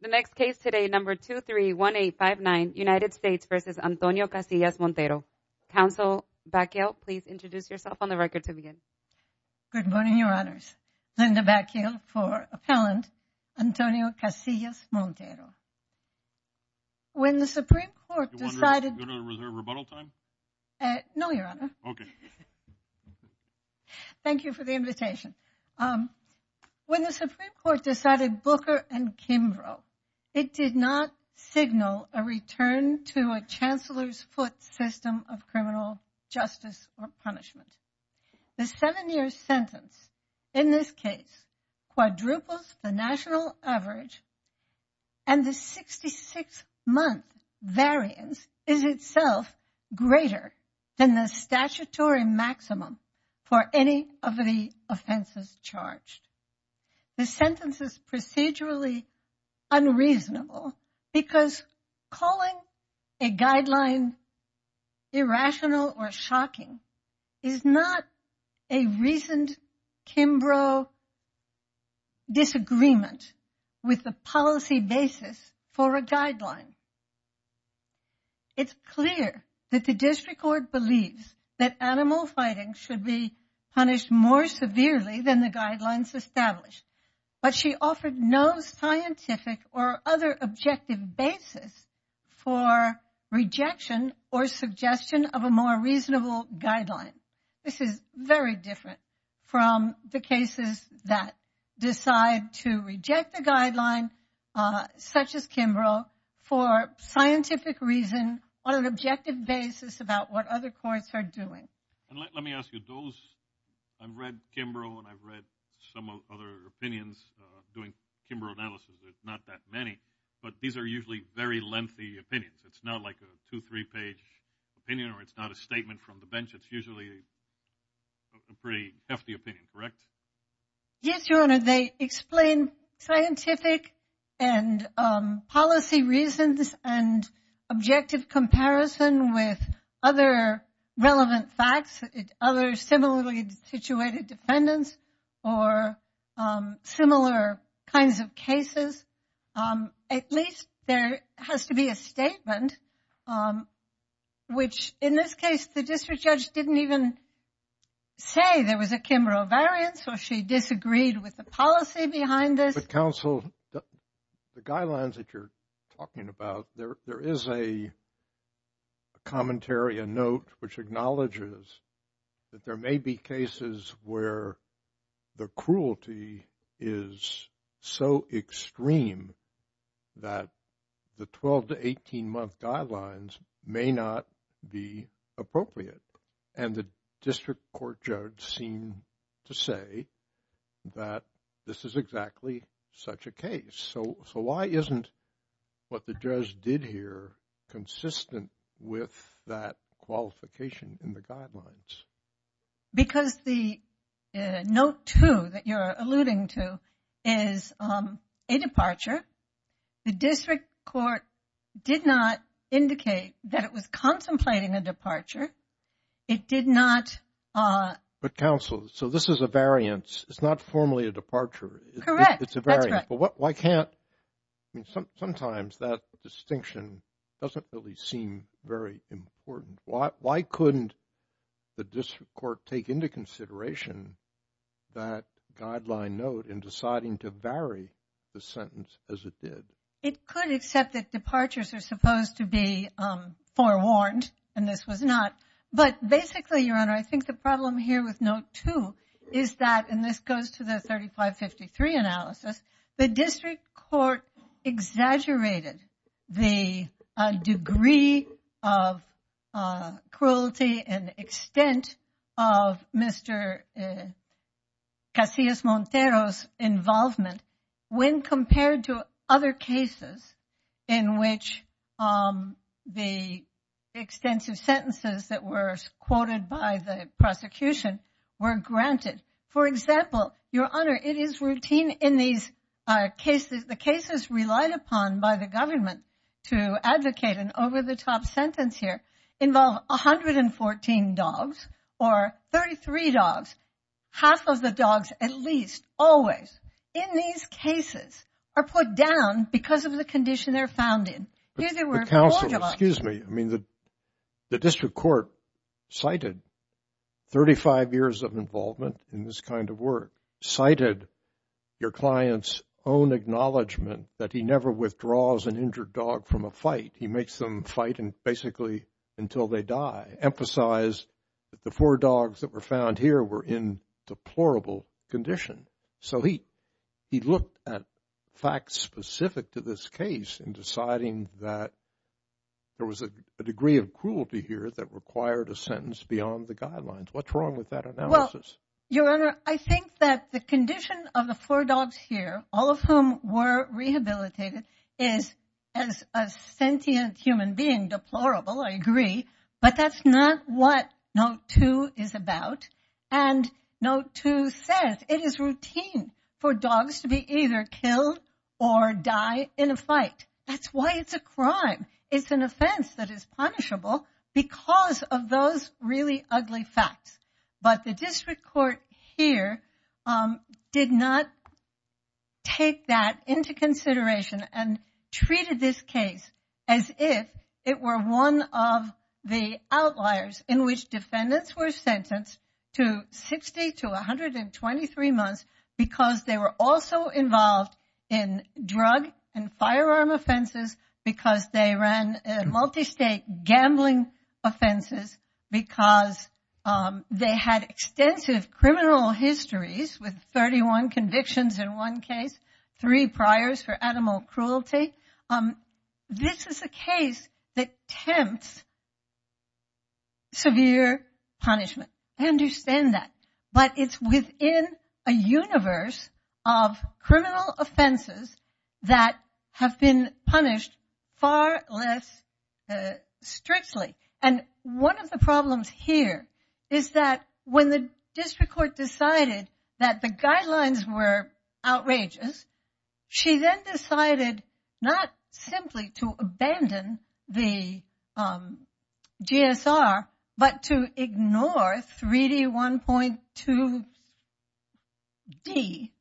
The next case today, number 231859, United States v. Antonio Casillas-Montero. Counsel Bacchial, please introduce yourself on the record to begin. Good morning, your honors. Linda Bacchial for appellant Antonio Casillas-Montero. When the Supreme Court decided- Was there a rebuttal time? No, your honor. Okay. Thank you for the invitation. When the Supreme Court decided Booker and Kimbrough, it did not signal a return to a chancellor's foot system of criminal justice or punishment. The seven-year sentence in this case quadruples the national average and the 66-month variance is itself greater than the statutory maximum for any of the offenses charged. The sentence is procedurally unreasonable because calling a guideline irrational or shocking is not a reasoned Kimbrough disagreement with the policy basis for a guideline. It's clear that the district court believes that animal fighting should be punished more severely than the guidelines established, but she offered no scientific or other objective basis for rejection or suggestion of a more reasonable guideline. This is very different from the cases that decide to reject the guideline such as Kimbrough for scientific reason on an objective basis about what other courts are doing. And let me ask you, those- I've read Kimbrough and I've read some other opinions doing Kimbrough analysis. There's not that many, but these are usually very lengthy opinions. It's not like a two, three page opinion or it's not a statement from the bench. It's usually a pretty hefty opinion, correct? Yes, your honor. They explain scientific and policy reasons and objective comparison with other relevant facts, other similarly situated defendants or similar kinds of cases. At least there has to be a statement, which in this case, the district judge didn't even say there was a Kimbrough variance or she disagreed with the policy behind this. But counsel, the guidelines that you're talking about, there is a commentary, a note which acknowledges that there may be cases where the cruelty is so extreme that the 12 to 18 month guidelines may not be appropriate. And the district court judge seemed to say that this is exactly such a case. So why isn't what the judge did here consistent with that qualification in the guidelines? Because the note two that you're is a departure. The district court did not indicate that it was contemplating a departure. It did not- But counsel, so this is a variance. It's not formally a departure. Correct. It's a variance. But why can't, I mean, sometimes that distinction doesn't really seem very important. Why couldn't the district court take into consideration that guideline note in deciding to vary the sentence as it did? It could accept that departures are supposed to be forewarned, and this was not. But basically, Your Honor, I think the problem here with note two is that, and this goes to the 3553 analysis, the district court exaggerated the degree of cruelty and extent of Mr. Casillas Montero's involvement when compared to other cases in which the extensive sentences that were quoted by the prosecution were granted. For example, Your Honor, it is routine in these cases, the cases relied upon by the government to advocate an over-the-top sentence here involve 114 dogs or 33 dogs. Half of the dogs, at least always in these cases, are put down because of the condition they're found in. But counsel, excuse me, I mean, the district court cited 35 years of involvement in this kind of work, cited your client's own acknowledgement that he never withdraws an injured dog from a fight. He makes them fight and basically until they die, emphasize that the four dogs that were found here were in deplorable condition. So he, he looked at facts specific to this case in deciding that there was a degree of cruelty here that required a sentence beyond the guidelines. What's wrong with that analysis? Your Honor, I think that the condition of the four dogs here, all of whom were rehabilitated, is as a sentient human being deplorable, I agree. But that's not what note two is about. And note two says it is routine for dogs to be either killed or die in a fight. That's why it's a crime. It's an offense that is punishable because of those really ugly facts. But the district court here did not take that into consideration and treated this case as if it were one of the outliers in which defendants were sentenced to 60 to 123 months because they were also involved in drug and firearm offenses, because they ran multi-state gambling offenses, because they had extensive criminal histories with 31 convictions in one case, three priors for animal cruelty. This is a case that tempts severe punishment. I understand that. But it's within a universe of criminal offenses that have been punished far less strictly. And one of the problems here is that when the district court decided that the guidelines were outrageous, she then decided not simply to abandon the GSR, but to ignore 3D 1.2 D,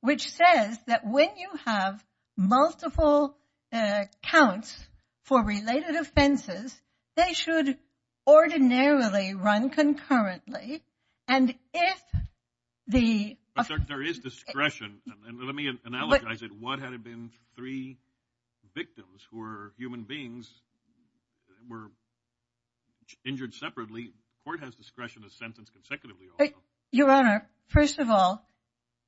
which says that when you have multiple counts for related offenses, they should ordinarily run concurrently. And if there is discretion, and let me analogize it. What had it been? Three victims who are human beings were injured separately. Court has discretion to sentence consecutively. Your Honor, first of all,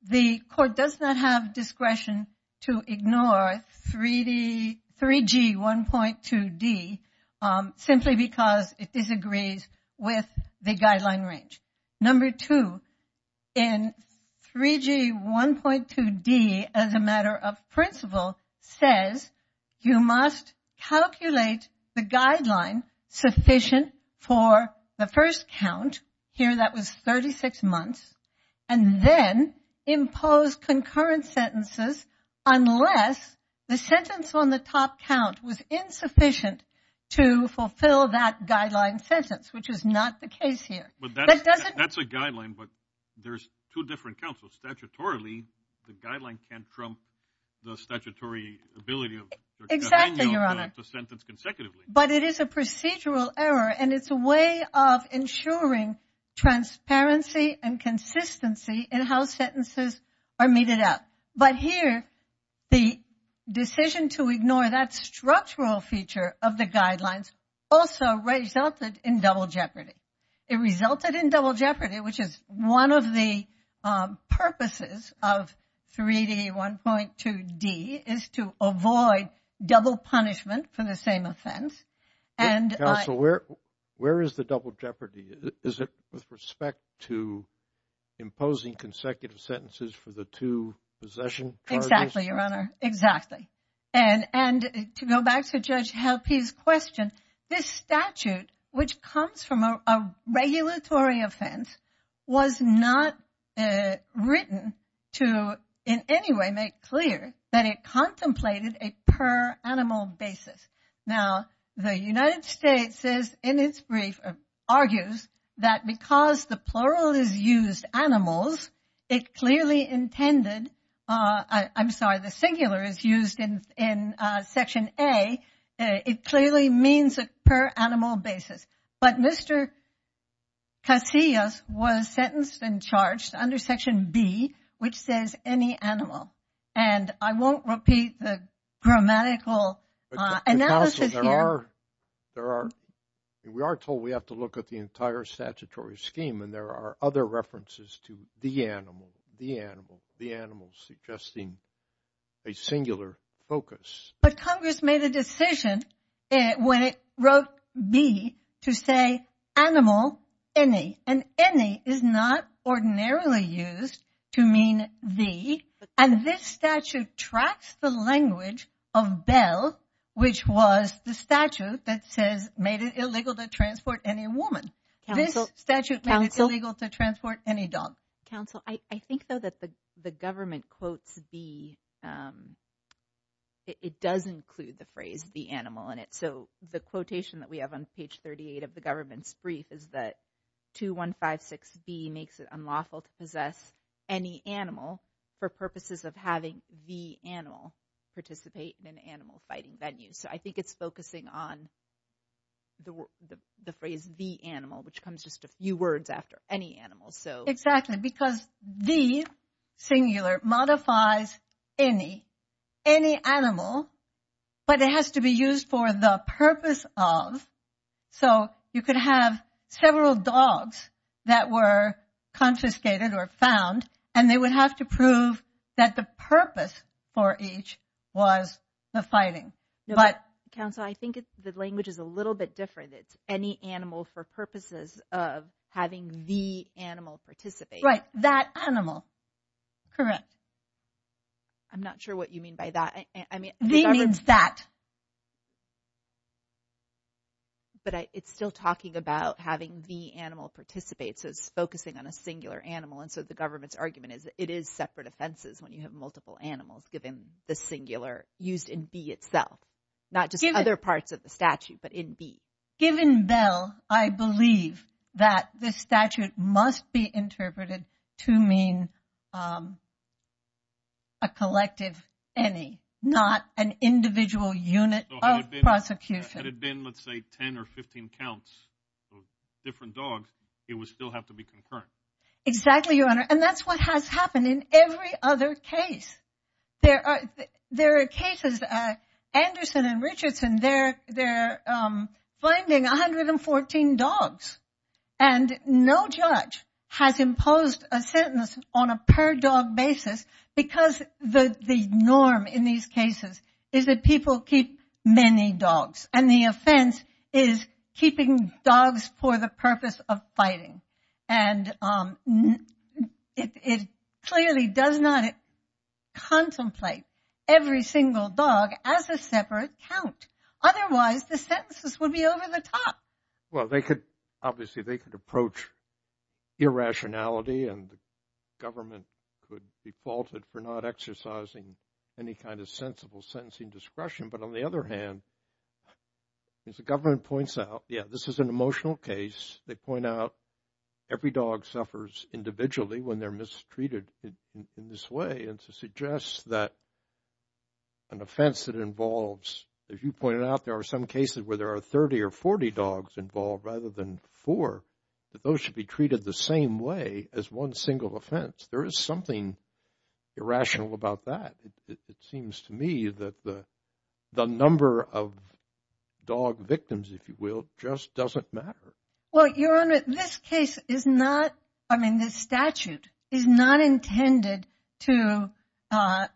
the court does not have discretion to ignore 3D 3G 1.2 D simply because it disagrees with the guideline range. Number two, in 3G 1.2 D, as a matter of principle, says you must calculate the guideline sufficient for the first count, here that was 36 months, and then impose concurrent sentences unless the sentence on the top count was insufficient to fulfill that guideline sentence, which is not the case here. But that's a guideline, but there's two different counsels. Statutorily, the guideline can't trump the statutory ability of the sentence consecutively. But it is a procedural error, and it's a way of ensuring transparency and consistency in how sentences are meted out. But here, the decision to ignore that structural feature of the guidelines also resulted in double jeopardy. It resulted in double jeopardy, which is one of the purposes of 3D 1.2 D is to avoid double punishment for the same offense. Counsel, where is the double jeopardy? Is it with respect to imposing consecutive sentences for the two possession charges? Exactly, Your Honor, exactly. And to go back to Judge Halpy's question, this statute, which comes from a regulatory offense, was not written to in any way make clear that it contemplated a per animal basis. Now, the United States says in its brief argues that because the plural is used animals, it clearly intended, I'm sorry, the singular is used in Section A, it clearly means a per animal basis. But Mr. Casillas was sentenced and charged under Section B, which says any animal. And I won't repeat the grammatical analysis here. Counsel, there are, we are told we have to look at the entire statutory scheme, and there are other references to the animal, the animal, the animal suggesting a singular focus. But Congress made a decision when it wrote B to say animal any, and any is not ordinarily used to mean the, and this statute tracks the language of Bell, which was the statute that says made it illegal to transport any woman. This statute made it illegal to transport any dog. Counsel, I think though that the government quotes B, it does include the phrase the animal in it. So the quotation that we have on page 38 of the government's brief is that 2156B makes it unlawful to possess any animal for purposes of having the animal participate in an animal fighting venue. So I think it's focusing on the phrase the animal, which comes just a few words after any animal. Exactly, because the singular modifies any, any animal, but it has to be used for the purpose of, so you could have several dogs that were confiscated or found, and they would have to prove that the purpose for each was the fighting. But, Counsel, I think it's the language is a having the animal participate. Right, that animal, correct. I'm not sure what you mean by that. The means that. But it's still talking about having the animal participate. So it's focusing on a singular animal. And so the government's argument is it is separate offenses when you have multiple animals, given the singular used in B itself, not just other parts of the statute, but in B. Given B, I believe that this statute must be interpreted to mean a collective any, not an individual unit of prosecution. Had it been, let's say, 10 or 15 counts of different dogs, it would still have to be concurrent. Exactly, Your Honor. And that's what has happened in every other case. There are, there are cases, Anderson and Richardson, they're, finding 114 dogs and no judge has imposed a sentence on a per dog basis because the norm in these cases is that people keep many dogs and the offense is keeping dogs for the purpose of fighting. And it clearly does not contemplate every single dog as a separate count. Otherwise, the sentences would be over the top. Well, they could obviously, they could approach irrationality and the government could be faulted for not exercising any kind of sensible sentencing discretion. But on the other hand, as the government points out, yeah, this is an emotional case. They point out every dog suffers individually when they're mistreated in this way and to suggest that an offense that involves, as you pointed out, there are some cases where there are 30 or 40 dogs involved rather than four, that those should be treated the same way as one single offense. There is something irrational about that. It seems to me that the number of dog victims, if you will, just doesn't matter. Well, Your Honor, this case is not, I mean, this statute is not intended to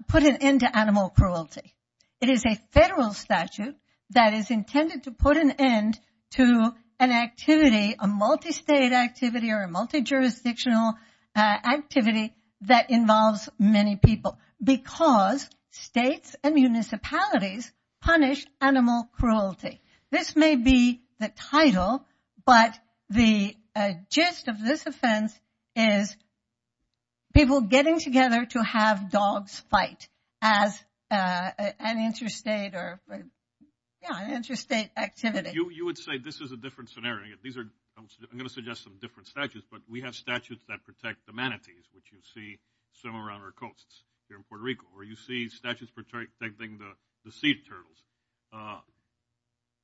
put an end to animal cruelty. It is a federal statute that is intended to put an end to an activity, a multi-state activity or a multi-jurisdictional activity that involves many people because states and municipalities punish animal cruelty. This may be the title, but the gist of this offense is people getting together to have dogs fight as an interstate or, yeah, an interstate activity. You would say this is a different scenario. These are, I'm going to suggest some different statutes, but we have statutes that protect the manatees, which you see somewhere around our coasts here in Puerto Rico, or you see statutes protecting the sea turtles.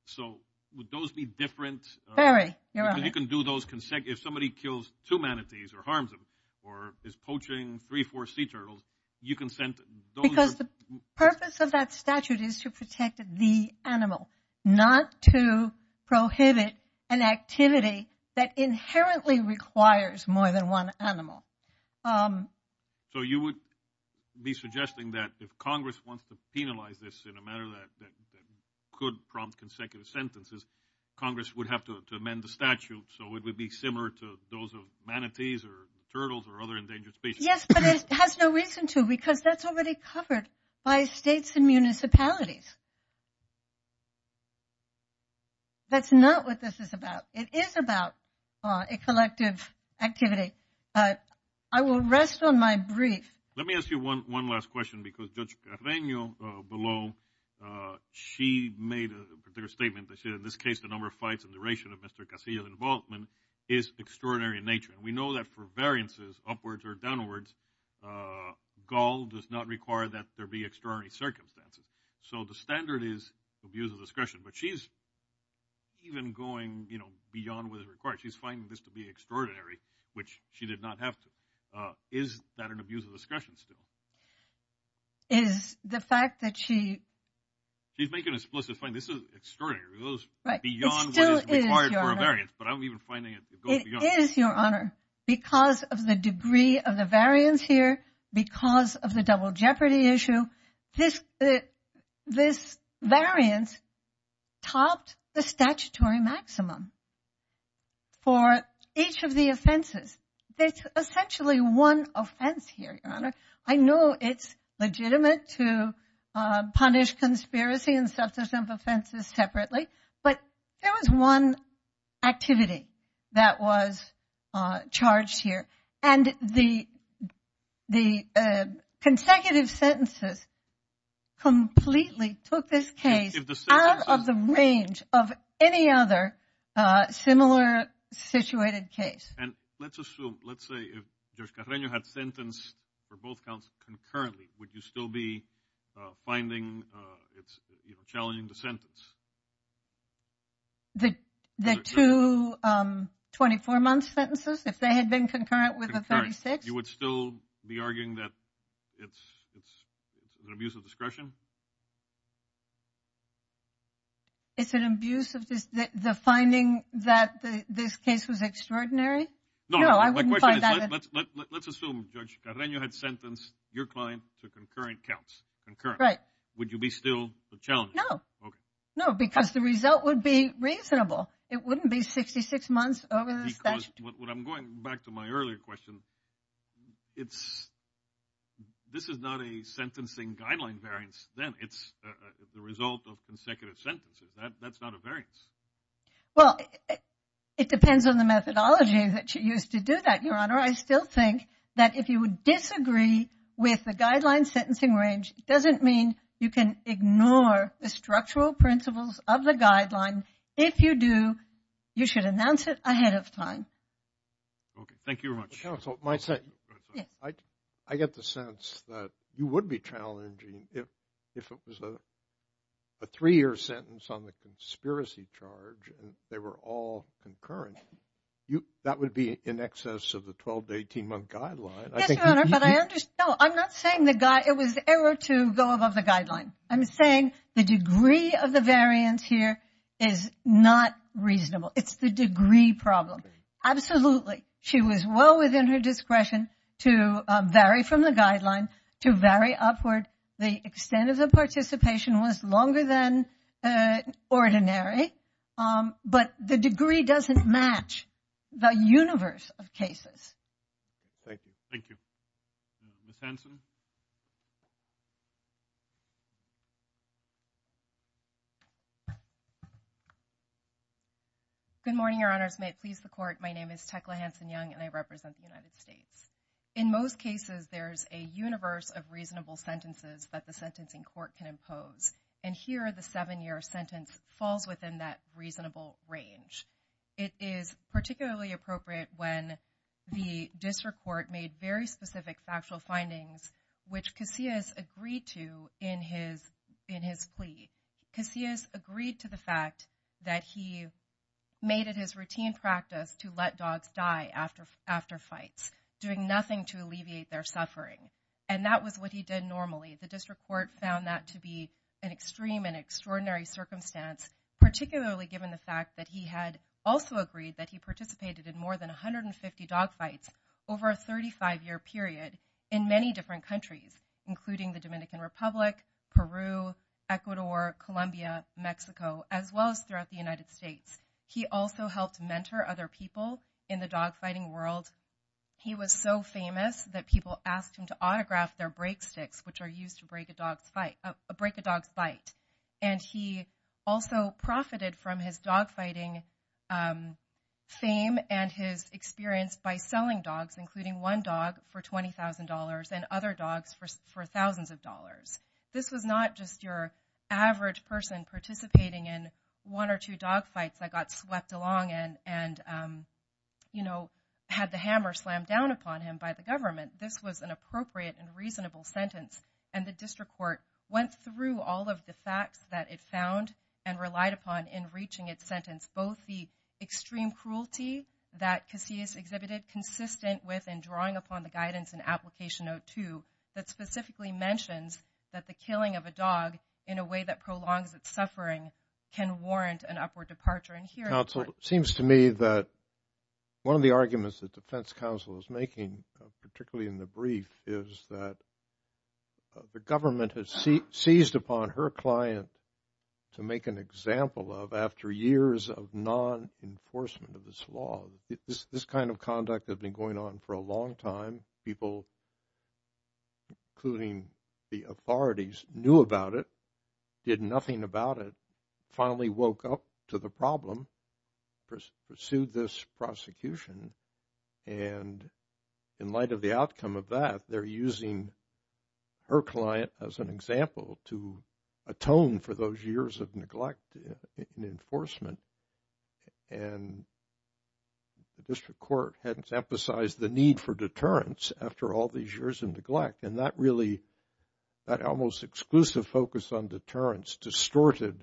So, would those be different? Very, Your Honor. Because you can do those, if somebody kills two manatees or harms them or is poaching three, four sea turtles, you can send those. Because the purpose of that statute is to protect the animal, not to prohibit an activity that inherently requires more than one animal. So, you would be suggesting that if Congress wants to penalize this in a manner that could prompt consecutive sentences, Congress would have to amend the statute so it would be similar to those of manatees or turtles or other endangered species? Yes, but it has no reason to because that's already covered by states and municipalities. That's not what this is about. It is about a collective activity, but I will rest on my brief. Let me ask you one last question because Judge Carreño below, she made a particular statement that said, in this case, the number of fights and duration of Mr. Casillas' involvement is extraordinary in nature. We know that for variances upwards or downwards, gall does not require that there be extraordinary circumstances. So, the standard is abuse of discretion, but she's even going, you know, beyond what is required. She's finding this to be extraordinary, which she did not have to. Is that an abuse of discretion still? Is the fact that she... She's making an explicit point. This is extraordinary. It goes beyond what is required for a variance, but I'm even finding it... It is, Your Honor, because of the degree of the variance here, because of the double jeopardy issue, this variance topped the statutory maximum for each of the offenses. There's essentially one offense here, Your Honor. I know it's legitimate to punish conspiracy and substance of offenses separately, but there was one activity that was charged here, and the consecutive sentences completely took this case out of the range of any other similar situated case. And let's assume... Let's say if Judge Carreño had sentenced for both counts concurrently, would you still be finding... It's, you know, challenging the sentence? The two 24-month sentences, if they had been concurrent with the 36? You would still be arguing that it's an abuse of discretion? It's an abuse of this... The finding that this case was extraordinary? No, I wouldn't find that... Let's assume Judge Carreño had sentenced your client to concurrent counts, concurrent. Right. Would you be still challenging? No. Okay. No, because the result would be reasonable. It wouldn't be 66 months over the statute. Because what I'm going... Back to my earlier question, it's... This is not a sentencing guideline variance then. It's the result of consecutive sentences. That's not a variance. Well, it depends on the methodology that you use to do that, Your Honor. I still think that if you would disagree with the guideline sentencing range, it doesn't mean you can ignore the structural principles of the guideline. If you do, you should announce it ahead of time. Okay. Thank you very much. Counsel, my second... I get the sense that you would be challenging if it was a three-year sentence on the conspiracy charge and they were all concurrent. That would be in excess of the 12 to 18-month guideline. Yes, Your Honor, but I understand... No, I'm not saying the guy... It was error to go above the guideline. I'm saying the degree of the variance here is not reasonable. It's the degree problem. Absolutely. She was well within her discretion to vary from the guideline, to vary upward. The extent of the participation was longer than ordinary, but the degree doesn't match the universe of cases. Thank you. Thank you. Ms. Hanson? Good morning, Your Honors. May it please the Court. My name is Tecla Hanson-Young, and I represent the United States. In most cases, there's a universe of reasonable sentences that the sentencing court can impose. And here, the seven-year sentence falls within that reasonable range. It is particularly appropriate when the district court made very specific factual findings, which Casillas agreed to in his plea. Casillas agreed to the fact that he made it his routine practice to let dogs die after fights, doing nothing to alleviate their suffering. And that was what he did normally. The district court found that to be an extreme and extraordinary circumstance, particularly given the fact that he had also agreed that he participated in more than 150 dog fights over a 35-year period in many different countries, including the Dominican Republic, Peru, Ecuador, Colombia, Mexico, as well as throughout the United States. He also helped mentor other people in the dog fighting world. He was so famous that people asked him to autograph their break sticks, which are used to break a dog's bite. And he also profited from his dog fighting fame and his experience by selling dogs, including one dog for $20,000 and other dogs for thousands of dollars. This was not just your average person participating in one or two dog fights that got swept along and, you know, had the hammer slammed down upon him by the government. This was an appropriate and reasonable sentence. And the district court went through all of the facts that it found and relied upon in reaching its sentence, both the extreme cruelty that Casillas exhibited, consistent with and drawing upon the guidance in Application 02 that specifically mentions that the killing of a dog in a way that prolongs its suffering can warrant an upward departure. And here, counsel, it seems to me that one of the arguments that defense counsel is making, particularly in the brief, is that the government has seized upon her client to make an example of after years of non-enforcement of this law. This kind of conduct has been going on for a long time. People, including the authorities, knew about it, did nothing about it, finally woke up to the problem, pursued this prosecution. And in light of the outcome of that, they're using her client as an example to atone for those years of neglect in enforcement. And the district court has emphasized the need for deterrence after all these years of neglect. And that really, that almost exclusive focus on deterrence distorted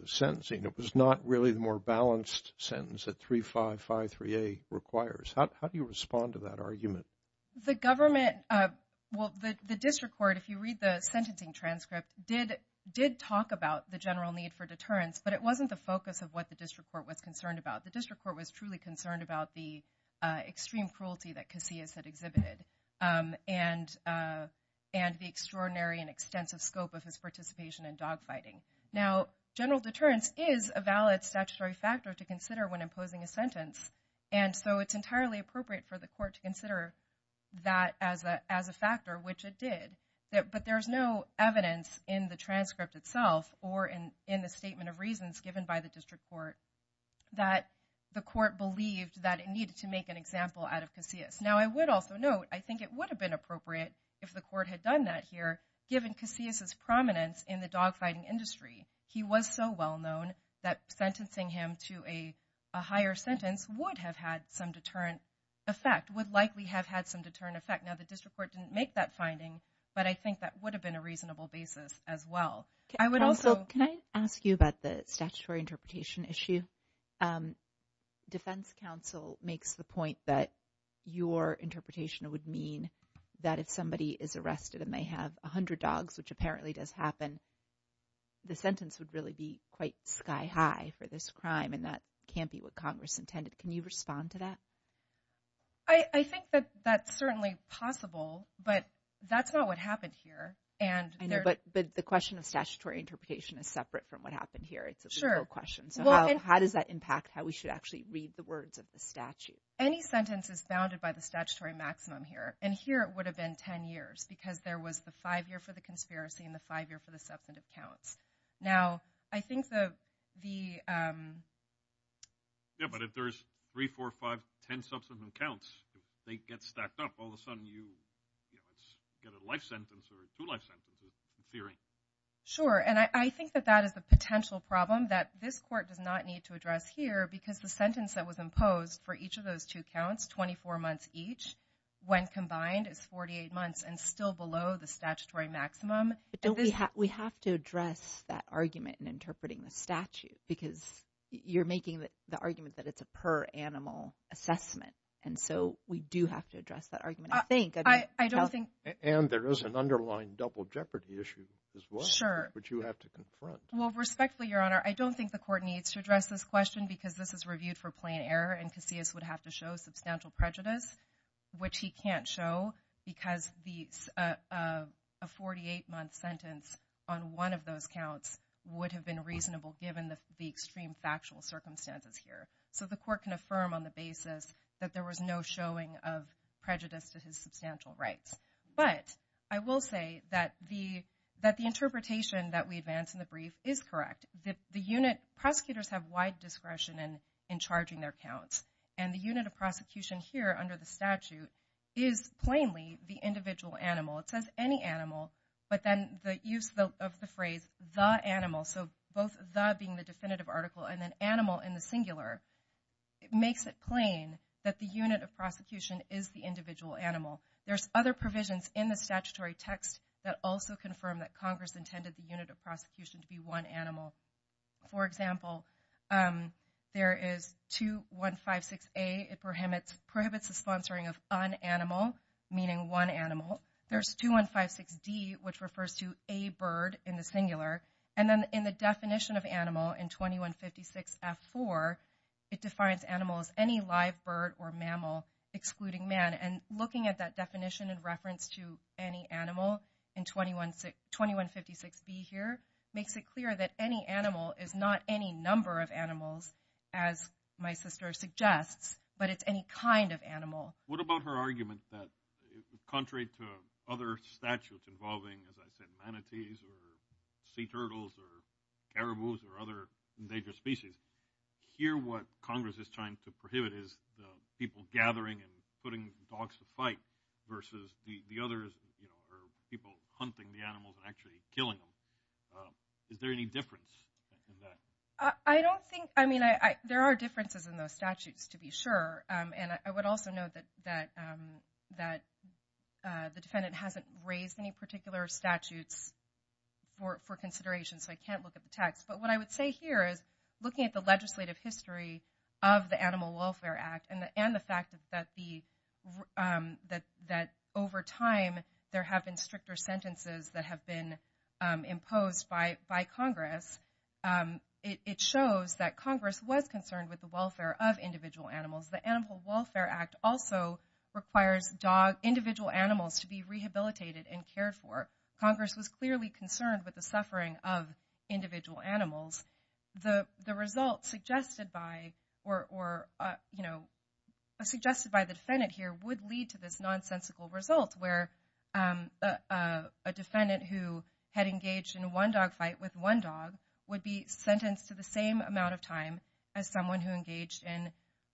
the sentencing. It was not really the more balanced sentence that 3553A requires. How do you respond to that argument? The government, well, the district court, if you read the sentencing transcript, did talk about the general need for deterrence, but it wasn't the focus of what the district court was concerned about. The district court was truly concerned about the extreme cruelty that Casillas had exhibited, and the extraordinary and extensive scope of his participation in dogfighting. Now, general deterrence is a valid statutory factor to consider when imposing a sentence, and so it's entirely appropriate for the court to consider that as a factor, which it did. But there's no evidence in the transcript itself or in the statement of reasons given by the district court that the court believed that it needed to make an example out of Casillas. Now, I would also note, I think it would have been appropriate if the court had done that here, given Casillas' prominence in the dogfighting industry. He was so well known that sentencing him to a higher sentence would have had some deterrent effect, would likely have had some deterrent effect. Now, the district court didn't make that finding, but I think that would have been a reasonable basis as well. I would also... Can I ask you about the statutory interpretation issue? Defense counsel makes the point that your interpretation would mean that if somebody is arrested and they have a hundred dogs, which apparently does happen, the sentence would really be quite sky high for this crime, and that can't be what Congress intended. Can you respond to that? I think that that's certainly possible, but that's not what happened here. But the question of statutory interpretation is separate from what happened here. It's a legal question. So how does that impact how we should actually read the words of the statute? Any sentence is bounded by the statutory maximum here, and here it would have been 10 years because there was the five-year for the conspiracy and the five-year for the substantive counts. Now, I think that the... Yeah, but if there's three, four, five, ten substantive counts, if they get stacked up, all of a sudden you get a life sentence or two life sentences, in theory. Sure, and I think that that is the potential problem that this court does not need to address here because the sentence that was imposed for each of those two counts, 24 months each, when combined is 48 months and still below the statutory maximum. But don't we have to address that argument in interpreting the statute because you're making the argument that it's a per-animal assessment, and so we do have to address that argument, I think. I don't think... And there is an underlying double jeopardy issue as well, which you have to confront. Well, respectfully, Your Honor, I don't think the court needs to address this question because this is reviewed for plain error and which he can't show because a 48-month sentence on one of those counts would have been reasonable given the extreme factual circumstances here. So the court can affirm on the basis that there was no showing of prejudice to his substantial rights. But I will say that the interpretation that we advance in the brief is correct. The unit... Prosecutors have wide discretion in charging their counts, and the unit of prosecution here under the statute is plainly the individual animal. It says any animal, but then the use of the phrase, the animal, so both the being the definitive article and then animal in the singular, it makes it plain that the unit of prosecution is the individual animal. There's other provisions in the statutory text that also confirm that of prosecution to be one animal. For example, there is 2156A, it prohibits the sponsoring of unanimal, meaning one animal. There's 2156D, which refers to a bird in the singular. And then in the definition of animal in 2156F4, it defines animal as any live bird or mammal excluding man. And looking at that definition in reference to any animal in 2156B here, makes it clear that any animal is not any number of animals, as my sister suggests, but it's any kind of animal. What about her argument that contrary to other statutes involving, as I said, manatees or sea turtles or caribous or other endangered species, here what Congress is trying to prohibit is the gathering and putting dogs to fight versus the others, people hunting the animals and actually killing them. Is there any difference in that? I don't think, I mean, there are differences in those statutes to be sure. And I would also note that the defendant hasn't raised any particular statutes for consideration, so I can't look at the text. But what I would say here is, looking at the legislative history of the Animal Welfare Act and the fact that over time, there have been stricter sentences that have been imposed by Congress, it shows that Congress was concerned with the welfare of individual animals. The Animal Welfare Act also requires individual animals to be rehabilitated and cared for. Congress was clearly concerned with the suffering of individual animals. The result suggested by the defendant here would lead to this nonsensical result where a defendant who had engaged in one dog fight with one dog would be sentenced to the same amount of time as someone who engaged in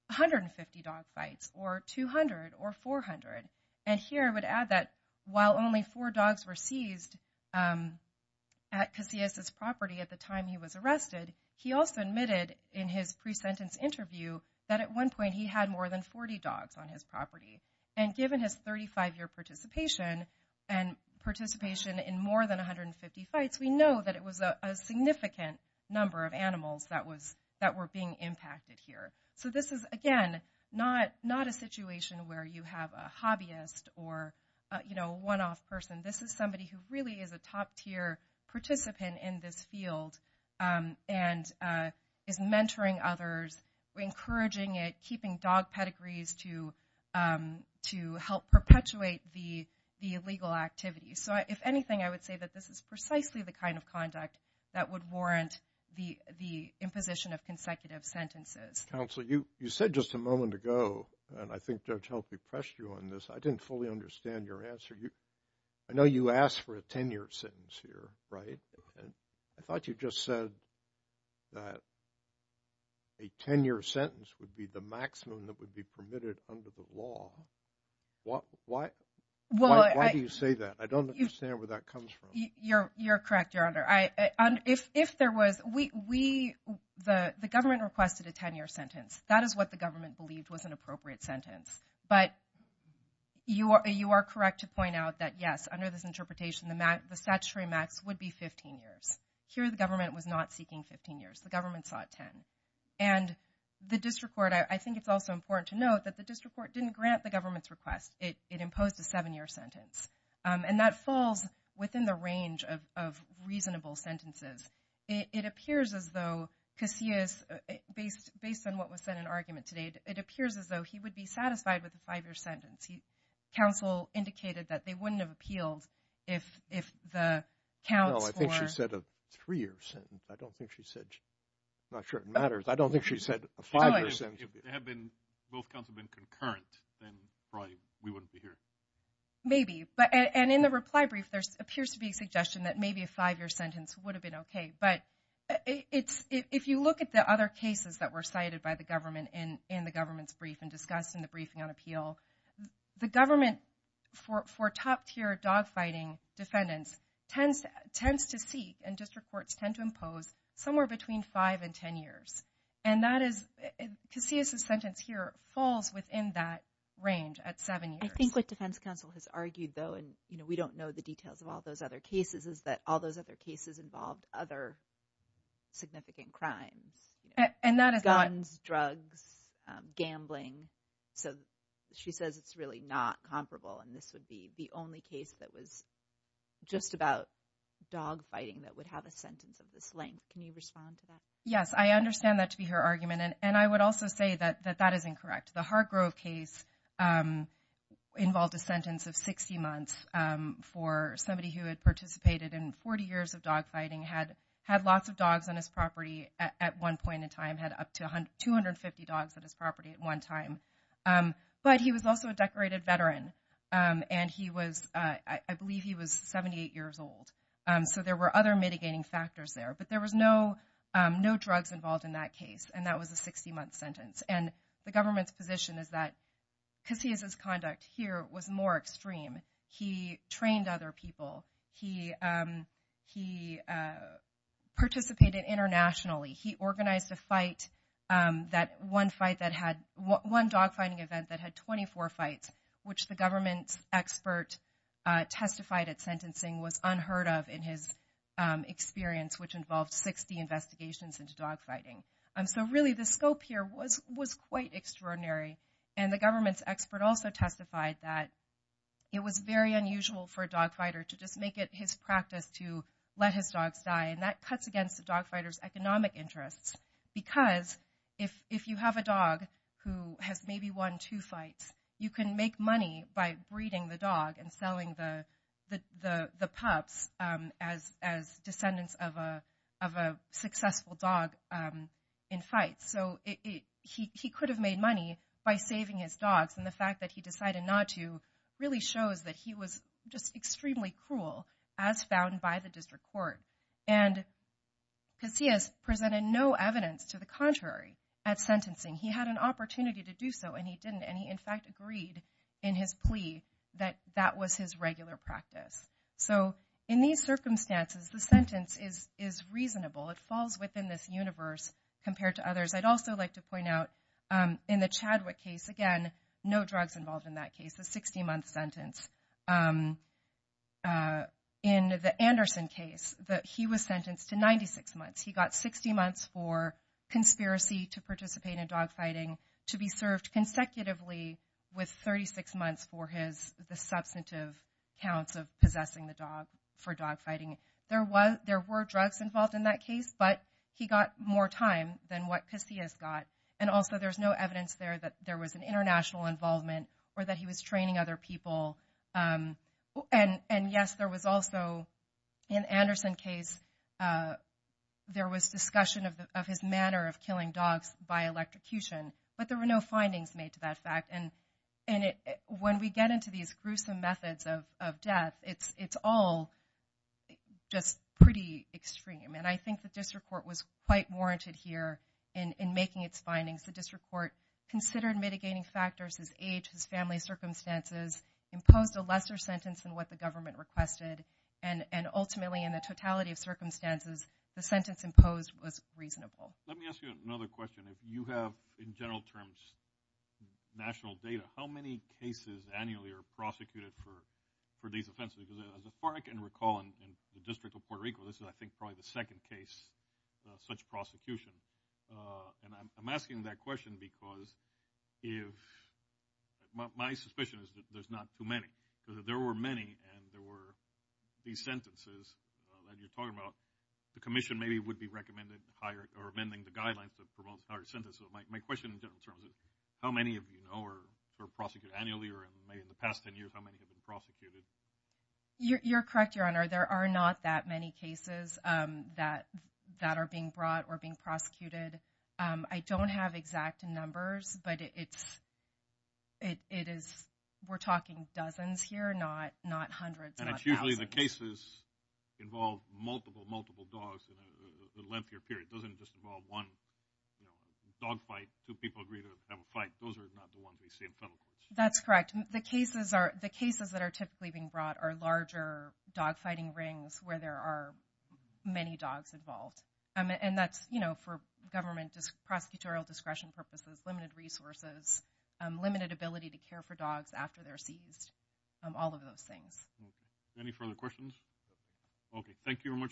150 dog fights or 200 or 400. And here I would add that while only four dogs were seized at Casillas' property at the time he was arrested, he also admitted in his pre-sentence interview that at one point he had more than 40 dogs on his property. And given his 35-year participation and participation in more than 150 fights, we know that it was a significant number of animals that were being impacted here. So this is, again, not a situation where you have a hobbyist or, you know, one-off person. This is somebody who really is a top-tier participant in this field and is mentoring others, encouraging it, keeping dog pedigrees to help perpetuate the illegal activity. So if anything, I would say that this is precisely the kind of conduct that would warrant the imposition of consecutive sentences. Counsel, you said just a moment ago, and I think Judge Health repressed you on this, I didn't fully understand your answer. I know you asked for a 10-year sentence here, right? I thought you just said that a 10-year sentence would be the maximum that would be permitted under the law. Why do you say that? I don't understand where that comes from. You're correct, Your Honor. The government requested a 10-year sentence. That is what the government believed was an appropriate sentence. But you are correct to point out that yes, under this interpretation, the statutory max would be 15 years. Here, the government was not seeking 15 years. The government sought 10. And the district court, I think it's also important to note that the district court didn't grant the government's request. It imposed a seven-year sentence. And that falls within the range of reasonable sentences. It appears as though, because he is, based on what was said in argument today, it appears as though he would be satisfied with a five-year sentence. Counsel indicated that they wouldn't have appealed if the counts were... No, I think she said a three-year sentence. I don't think she said... I'm not sure it matters. I don't think she said a five-year sentence. Both counts have been concurrent, then probably we wouldn't be here. Maybe. And in the reply brief, there appears to be a suggestion that maybe a five-year sentence would have been okay. But if you look at the other cases that were cited by the government in the government's brief and discussed in the briefing on appeal, the government, for top-tier dogfighting defendants, tends to seek, and district courts tend to impose, somewhere between five and ten years. And that is, Casillas' sentence here falls within that range at seven years. I think what defense counsel has argued, though, and we don't know the details of all those other cases, is that all those other cases involved other significant crimes. And that is not... Guns, drugs, gambling. So she says it's really not comparable, and this would be the only case that was just about dogfighting that would have a sentence of this length. Can you respond to that? Yes, I understand that to be her argument, and I would also say that that is incorrect. The Hargrove case involved a sentence of 60 months for somebody who had participated in 40 years of dogfighting, had lots of dogs on his property at one point in time, had up to 250 dogs on his property at one time. But he was also a decorated veteran, and he was, I believe he was 78 years old. So there were other mitigating factors there. But there was no drugs involved in that case, and that was a 60-month sentence. And the government's position is that Casillas' conduct here was more extreme. He trained other people. He participated internationally. He organized a fight, that one fight that had, one dogfighting event that had 24 fights, which the government's expert testified at sentencing was unheard of in his experience, which involved 60 investigations into dogfighting. So really the scope here was quite extraordinary, and the government's expert also testified that it was very unusual for a dogfighter to just make it his practice to let his dogs die, and that cuts against the dogfighter's economic interests. Because if you have a dog who has maybe won two fights, you can make money by breeding the dog and selling the pups as descendants of a successful dog in fights. So he could have made money by saving his dogs, and the fact that he decided not to really shows that he was just extremely cruel, as found by the district court. And Casillas presented no evidence to the contrary at sentencing. He had an opportunity to do so, and he didn't, and he in fact agreed in his plea that that was his regular practice. So in these circumstances, the sentence is reasonable. It falls within this universe compared to others. I'd also like to point out in the Chadwick case, no drugs involved in that case, a 60-month sentence. In the Anderson case, he was sentenced to 96 months. He got 60 months for conspiracy to participate in dogfighting to be served consecutively with 36 months for the substantive counts of possessing the dog for dogfighting. There were drugs involved in that case, but he more time than what Casillas got, and also there's no evidence there that there was an international involvement or that he was training other people. And yes, there was also in Anderson case, there was discussion of his manner of killing dogs by electrocution, but there were no findings made to that fact. And when we get into these gruesome methods of death, it's all just pretty extreme, and I think the district court was quite warranted here in making its findings. The district court considered mitigating factors, his age, his family circumstances, imposed a lesser sentence than what the government requested, and ultimately in the totality of circumstances, the sentence imposed was reasonable. Let me ask you another question. If you have in general terms national data, how many cases annually are prosecuted for these offenses? Because as far as I can recall in the district of Puerto Rico, this is, I think, probably the second case of such prosecution. And I'm asking that question because if, my suspicion is that there's not too many, because if there were many and there were these sentences that you're talking about, the commission maybe would be recommending higher or amending the guidelines that promote the higher sentence. So my question in general terms is, how many of you know or are prosecuted annually, or maybe in the past 10 years, how many have been prosecuted? You're correct, your honor. There are not that many cases that are being brought or being prosecuted. I don't have exact numbers, but it's, it is, we're talking dozens here, not hundreds. And it's usually the cases involve multiple, multiple dogs in a lengthier period. It doesn't just involve one, you know, dog fight, two people have a fight. Those are not the ones we see in federal courts. That's correct. The cases are, the cases that are typically being brought are larger dog fighting rings where there are many dogs involved. And that's, you know, for government prosecutorial discretion purposes, limited resources, limited ability to care for dogs after they're seized, all of those things. Any further questions? Okay, thank you very much.